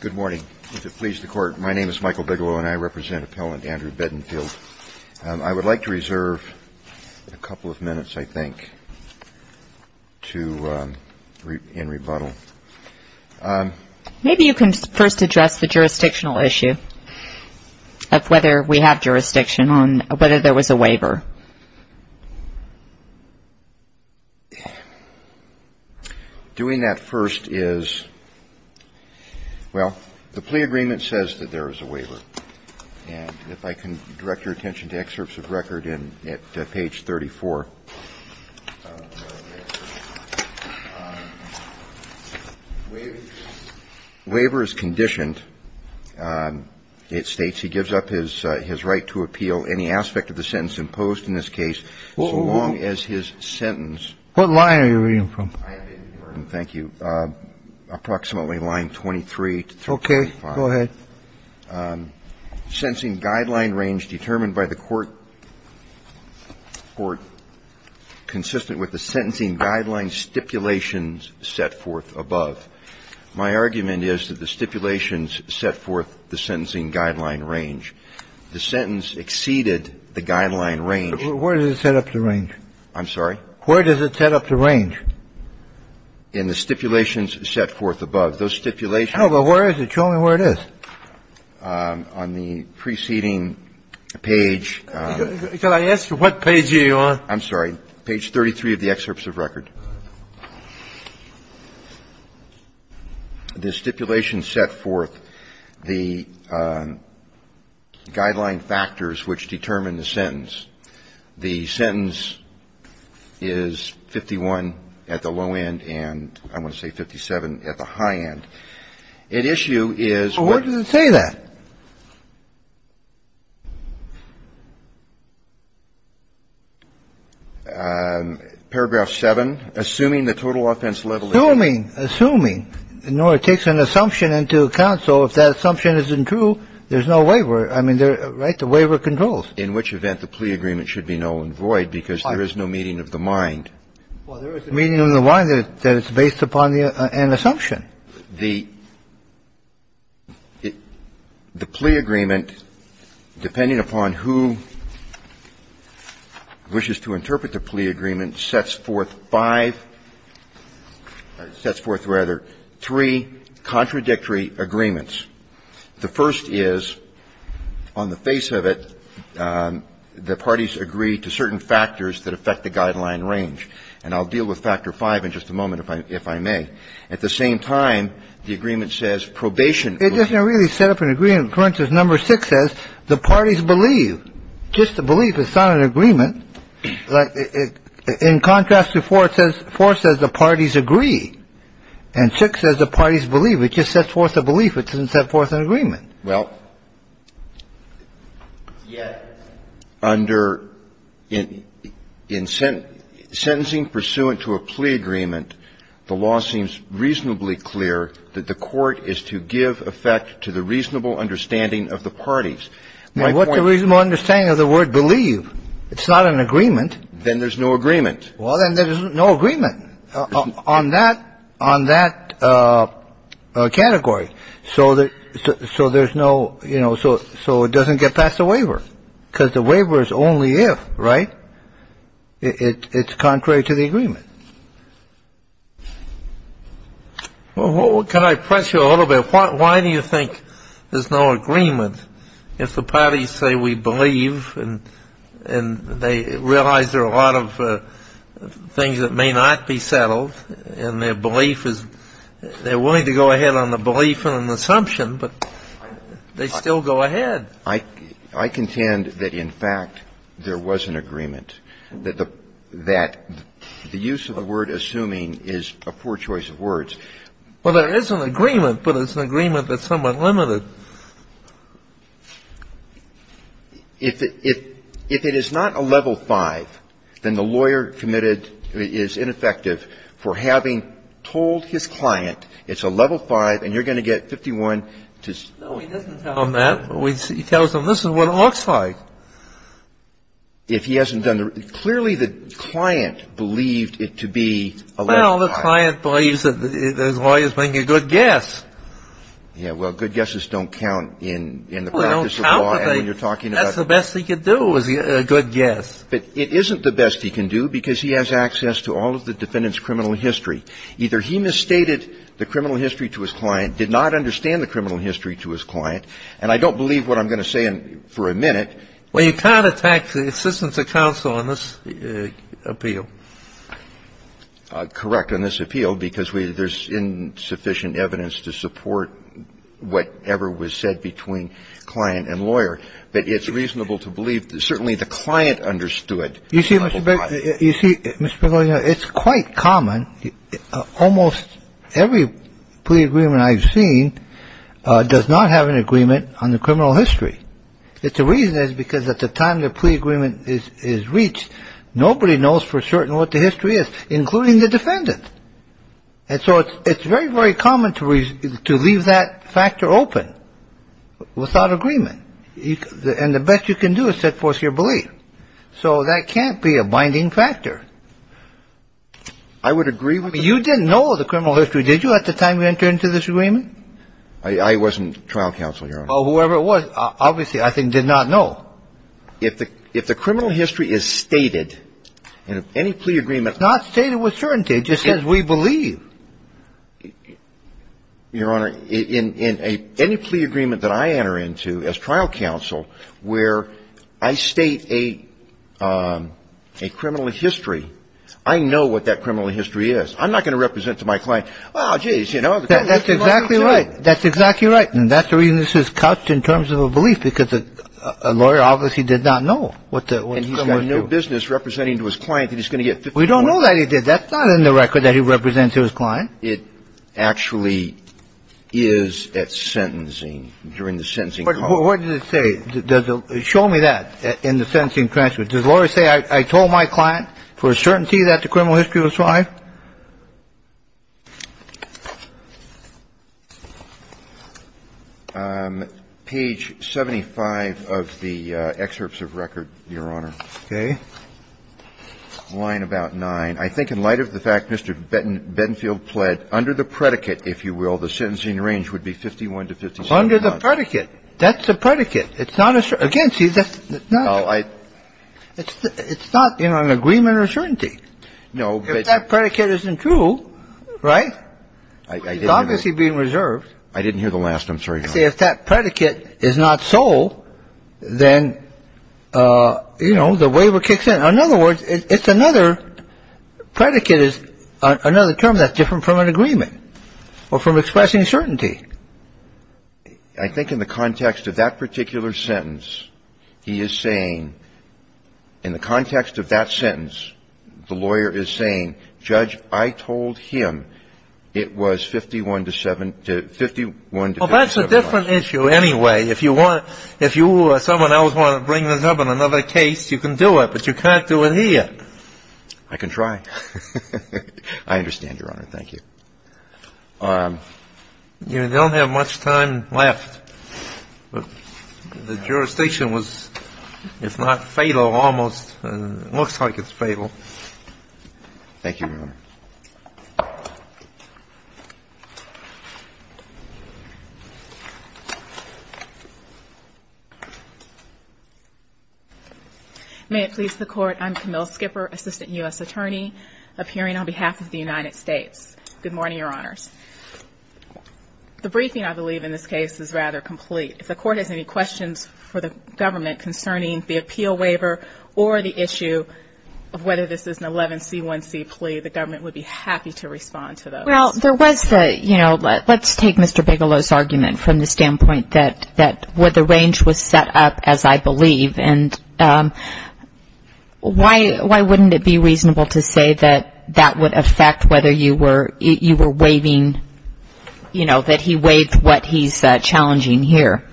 Good morning. If it pleases the Court, my name is Michael Bigelow and I represent Appellant Andrew Bedenfield. I would like to reserve a couple of minutes, I think, in rebuttal. Maybe you can first address the jurisdictional issue of whether we have jurisdiction on whether there was a waiver. Doing that first is, well, the plea agreement says that there is a waiver. And if I can direct your attention to excerpts of record at page 34, waiver is conditioned. It states he gives up his right to appeal any aspect of the sentence imposed in this case, so long as his sentence. What line are you reading from? I am reading from, thank you, approximately line 23 to 23.5. Okay. Go ahead. Sentencing guideline range determined by the Court, consistent with the sentencing guideline stipulations set forth above. My argument is that the stipulations set forth the sentencing guideline range. The sentence exceeded the guideline range. But where does it set up the range? I'm sorry? Where does it set up the range? In the stipulations set forth above. Those stipulations No, but where is it? Show me where it is. On the preceding page. Can I ask what page are you on? I'm sorry. Page 33 of the excerpts of record. The stipulations set forth the guideline factors which determine the sentence. The sentence is 51 at the low end and I want to say 57 at the high end. At issue is where Where does it say that? Paragraph 7, assuming the total offense level is Assuming, assuming. No, it takes an assumption into account. So if that assumption isn't true, there's no waiver. I mean, right, the waiver controls. In which event the plea agreement should be null and void because there is no meeting of the mind. Well, there is a meeting of the mind that is based upon an assumption. Again, the plea agreement, depending upon who wishes to interpret the plea agreement, sets forth five or sets forth, rather, three contradictory agreements. The first is, on the face of it, the parties agree to certain factors that affect the guideline range, and I'll deal with Factor V in just a moment if I may. The second is, on the face of it, the parties agree to certain factors that affect the guideline range, and I'll deal with Factor V in just a moment if I may. The third is, on the face of it, the parties agree to certain factors that affect the It doesn't really set up an agreement. The third is, on the face of it, the parties agree to certain factors that affect the guideline range, and I'll deal with Factor V in just a moment if I may. The fourth is, on the face of it, the parties agree to certain factors that affect the guideline range, and I'll deal with Factor V in just a moment if I may. Well, what can I press you a little bit? Why do you think there's no agreement if the parties say we believe and they realize there are a lot of things that may not be settled, and their belief is they're willing to go ahead on the belief and an assumption, but they still go ahead? I contend that, in fact, there was an agreement, that the use of the word assuming is a poor choice of words. Well, there is an agreement, but it's an agreement that's somewhat limited. If it is not a level V, then the lawyer committed is ineffective for having told his client it's a level V and you're going to get 51 to say no. No, he doesn't tell them that. He tells them this is what it looks like. If he hasn't done the – clearly the client believed it to be a level V. Well, the client believes that the lawyer is making a good guess. Yeah, well, good guesses don't count in the practice of law and when you're talking about – Well, they don't count, but that's the best he can do is a good guess. But it isn't the best he can do because he has access to all of the defendant's criminal history. Either he misstated the criminal history to his client, did not understand the criminal history to his client, and I don't believe what I'm going to say for a minute – Well, you can't attack the assistance of counsel on this appeal. Correct on this appeal because there's insufficient evidence to support whatever was said between client and lawyer. But it's reasonable to believe certainly the client understood a level V. You see, Mr. Berger, you see, Mr. Berger, it's quite common. Almost every plea agreement I've seen does not have an agreement on the criminal history. The reason is because at the time the plea agreement is reached, nobody knows for certain what the history is, including the defendant. And so it's very, very common to leave that factor open without agreement. And the best you can do is set forth your belief. So that can't be a binding factor. I would agree with that. You didn't know the criminal history, did you, at the time you entered into this agreement? I wasn't trial counsel, Your Honor. Well, whoever it was, obviously, I think, did not know. If the criminal history is stated in any plea agreement – It's not stated with certainty. It just says we believe. Your Honor, in any plea agreement that I enter into as trial counsel where I state a criminal history, I know what that criminal history is. I'm not going to represent to my client, oh, geez, you know – That's exactly right. That's exactly right. And that's the reason this is couched in terms of a belief, because a lawyer obviously did not know what the – And he's got no business representing to his client that he's going to get – We don't know that he did. That's not in the record that he represents to his client. It actually is at sentencing, during the sentencing – What does it say? Show me that in the sentencing transcript. Does the lawyer say, I told my client for certainty that the criminal history was right? Page 75 of the excerpts of record, Your Honor. Okay. Line about 9. I think in light of the fact Mr. Bentonfield pled under the predicate, if you will, the sentencing range would be 51 to 57 months. Under the predicate. That's the predicate. It's not – again, see, that's not – It's not an agreement or certainty. No, but – If that predicate isn't true, right? It's obviously being reserved. I didn't hear the last, I'm sorry, Your Honor. See, if that predicate is not so, then, you know, the waiver kicks in. In other words, it's another – predicate is another term that's different from an agreement or from expressing certainty. I think in the context of that particular sentence, he is saying – in the context of that sentence, the lawyer is saying, Judge, I told him it was 51 to 57 months. Well, that's a different issue anyway. If you want – if you or someone else want to bring this up in another case, you can do it, but you can't do it here. I can try. I understand, Your Honor. Thank you. You don't have much time left. The jurisdiction was – it's not fatal almost. It looks like it's fatal. Thank you, Your Honor. May it please the Court, I'm Camille Skipper, Assistant U.S. Attorney, appearing on behalf of the United States. Good morning, Your Honors. The briefing, I believe, in this case is rather complete. If the Court has any questions for the government concerning the appeal waiver or the issue of whether this is an 11c1c plea, the government would be happy to respond to those. Well, there was the, you know, let's take Mr. Bigelow's argument from the standpoint that the range was set up as I believe, and why wouldn't it be reasonable to say that that would affect whether you were waiving, you know, that he waived what he's challenging here?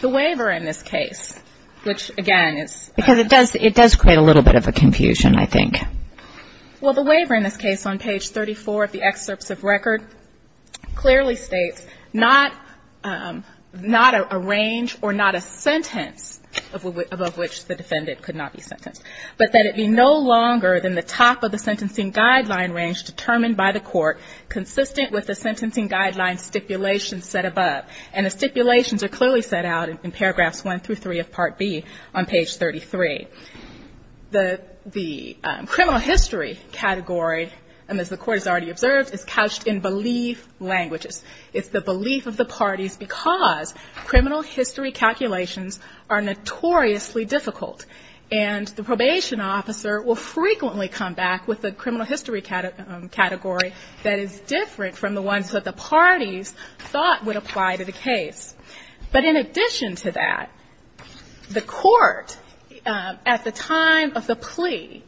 The waiver in this case, which again is – Because it does create a little bit of a confusion, I think. Well, the waiver in this case on page 34 of the excerpts of record clearly states not a range or not a sentence above which the defendant could not be sentenced, but that it be no longer than the top of the sentencing guideline range determined by the court, consistent with the sentencing guideline stipulations set above. And the stipulations are clearly set out in paragraphs 1 through 3 of Part B on page 33. The criminal history category, as the Court has already observed, is couched in belief languages. It's the belief of the parties because criminal history calculations are notoriously difficult. And the probation officer will frequently come back with a criminal history category that is different from the ones that the parties thought would apply to the case. But in addition to that, the court at the time of the plea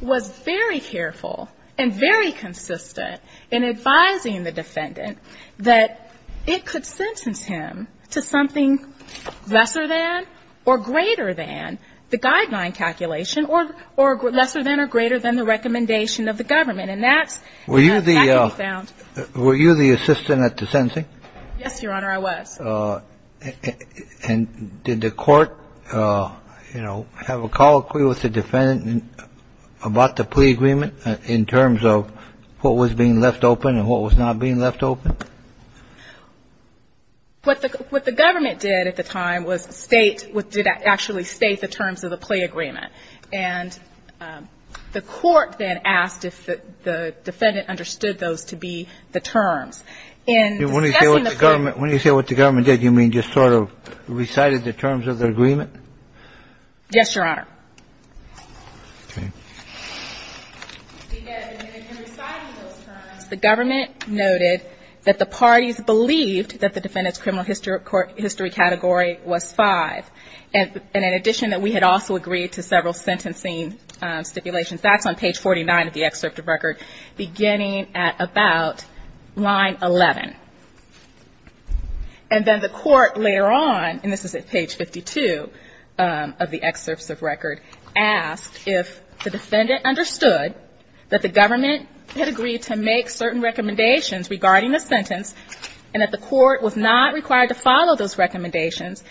was very careful and very consistent in advising the defendant that it could sentence him to something lesser than or greater than the guideline calculation or lesser than or greater than the recommendation of the government. And that's exactly what we found. Were you the assistant at the sentencing? Yes, Your Honor, I was. And did the court, you know, have a colloquy with the defendant about the plea agreement in terms of what was being left open and what was not being left open? What the government did at the time was state, did actually state the terms of the plea agreement. And the court then asked if the defendant understood those to be the terms. When you say what the government did, you mean just sort of recited the terms of the agreement? Yes, Your Honor. Okay. In reciting those terms, the government noted that the parties believed that the defendant's criminal history category was 5. And in addition, that we had also agreed to several sentencing stipulations. That's on page 49 of the excerpt of record beginning at about line 11. And then the court later on, and this is at page 52 of the excerpt of record, asked if the defendant understood that the government had agreed to make certain recommendations regarding the sentence and that the court was not required to follow those recommendations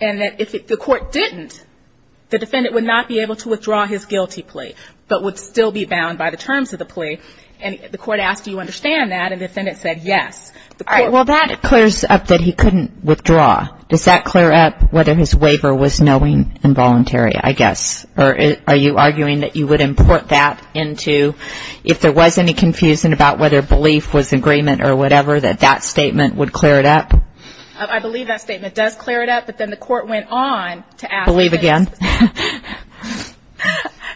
and that if the court didn't, the defendant would not be able to withdraw his guilty plea but would still be bound by the terms of the plea. And the court asked, do you understand that? And the defendant said yes. All right. Well, that clears up that he couldn't withdraw. Does that clear up whether his waiver was knowing and voluntary, I guess? Or are you arguing that you would import that into if there was any confusion about whether belief was agreement or whatever, that that statement would clear it up? I believe that statement does clear it up. But then the court went on to ask this. Believe again.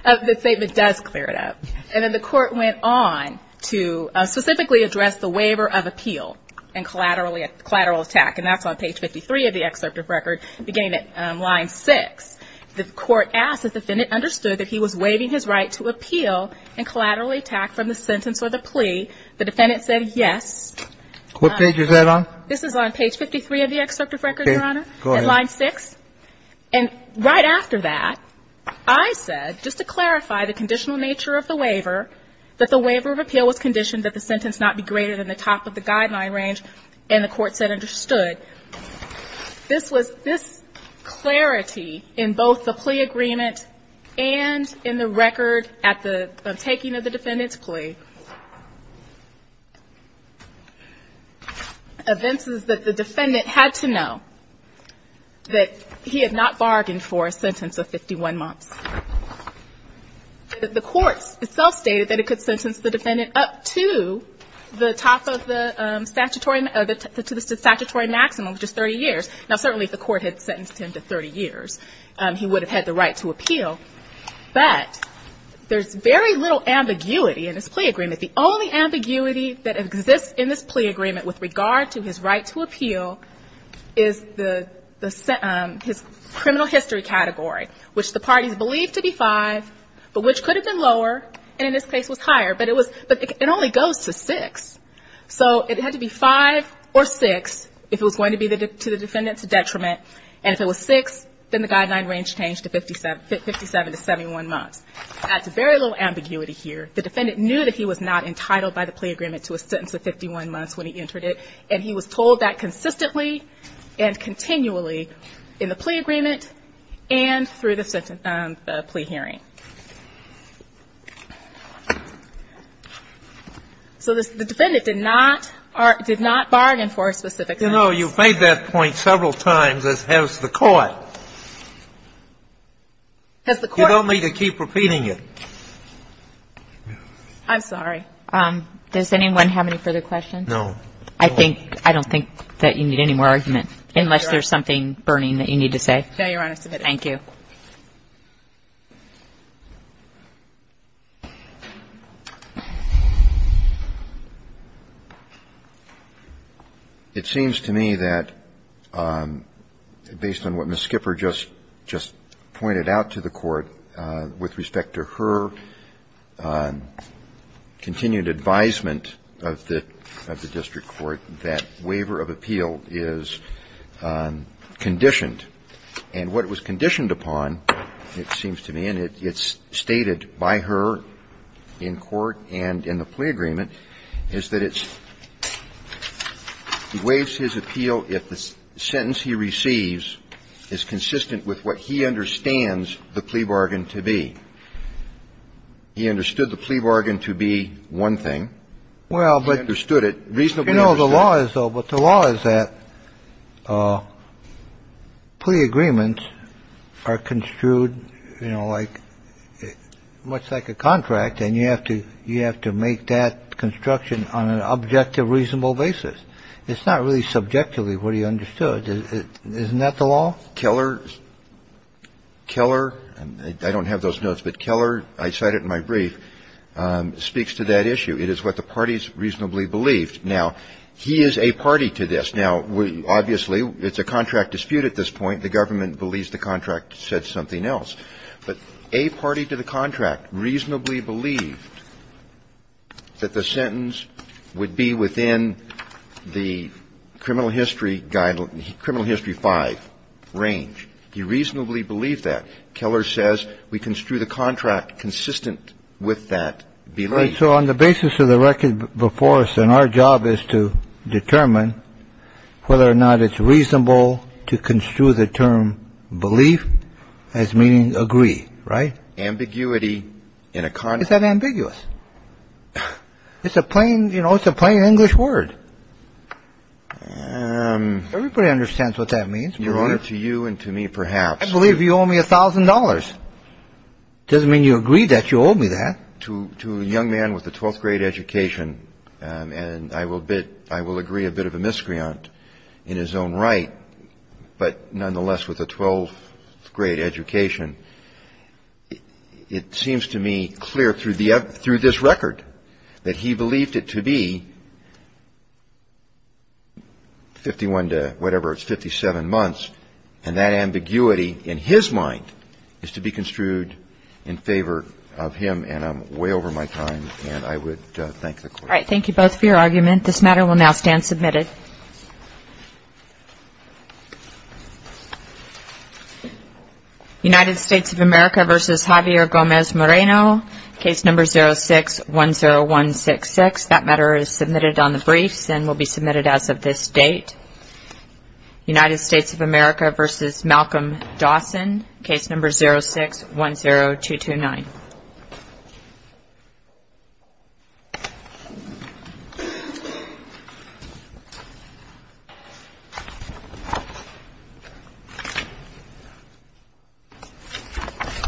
The statement does clear it up. And then the court went on to specifically address the waiver of appeal and collateral attack. And that's on page 53 of the excerpt of record beginning at line 6. The court asked if the defendant understood that he was waiving his right to appeal and collateral attack from the sentence or the plea. The defendant said yes. What page is that on? This is on page 53 of the excerpt of record, Your Honor, at line 6. Okay. Go ahead. And right after that, I said, just to clarify the conditional nature of the waiver, that the waiver of appeal was conditioned that the sentence not be greater than the top of the guideline range. And the court said understood. This was this clarity in both the plea agreement and in the record at the taking of the defendant's plea. Events is that the defendant had to know that he had not bargained for a sentence of 51 months. The court itself stated that it could sentence the defendant up to the top of the statutory maximum, which is 30 years. Now, certainly if the court had sentenced him to 30 years, he would have had the right to appeal. But there's very little ambiguity in this plea agreement. The only ambiguity that exists in this plea agreement with regard to his right to appeal is his criminal history category, which the parties believed to be 5, but which could have been lower and in this case was higher. But it only goes to 6. So it had to be 5 or 6 if it was going to be to the defendant's detriment. And if it was 6, then the guideline range changed to 57 to 71 months. That's very little ambiguity here. The defendant knew that he was not entitled by the plea agreement to a sentence of 51 months when he entered it, and he was told that consistently and continually in the plea agreement and through the plea hearing. So the defendant did not bargain for a specific sentence. Kennedy, you know, you've made that point several times as has the Court. You don't need to keep repeating it. I'm sorry. Does anyone have any further questions? No. I don't think that you need any more argument, unless there's something burning that you need to say. No, Your Honor. It seems to me that, based on what Ms. Skipper just pointed out to the Court with respect to her continued advisement of the district court, that waiver of appeal is conditioned. And what it was conditioned upon, it seems to me, and it's stated by her in court and in the plea agreement, is that it's he waives his appeal if the sentence he receives is consistent with what he understands the plea bargain to be. He understood the plea bargain to be one thing. He understood it reasonably. No, the law is, though, but the law is that plea agreements are construed, you know, like much like a contract, and you have to make that construction on an objective, reasonable basis. It's not really subjectively what he understood. Isn't that the law? Keller, I don't have those notes, but Keller, I cite it in my brief, speaks to that issue. It is what the parties reasonably believed. Now, he is a party to this. Now, obviously, it's a contract dispute at this point. The government believes the contract said something else. But a party to the contract reasonably believed that the sentence would be within the criminal history guideline, criminal history 5 range. He reasonably believed that. Keller says we construe the contract consistent with that belief. So on the basis of the record before us and our job is to determine whether or not it's reasonable to construe the term belief as meaning agree. Right. Ambiguity in a car. Is that ambiguous? It's a plain, you know, it's a plain English word. Everybody understands what that means to you and to me, perhaps. I believe you owe me a thousand dollars. Doesn't mean you agree that you owe me that. To a young man with a 12th grade education, and I will agree a bit of a miscreant in his own right, but nonetheless, with a 12th grade education, it seems to me clear through this record that he believed it to be 51 to whatever, it's 57 months. And that ambiguity in his mind is to be construed in favor of him. And I'm way over my time. And I would thank the court. Thank you both for your argument. This matter will now stand submitted. United States of America versus Javier Gomez Moreno. Case number 0610166. That matter is submitted on the briefs and will be submitted as of this date. United States of America versus Malcolm Dawson. Case number 0610229.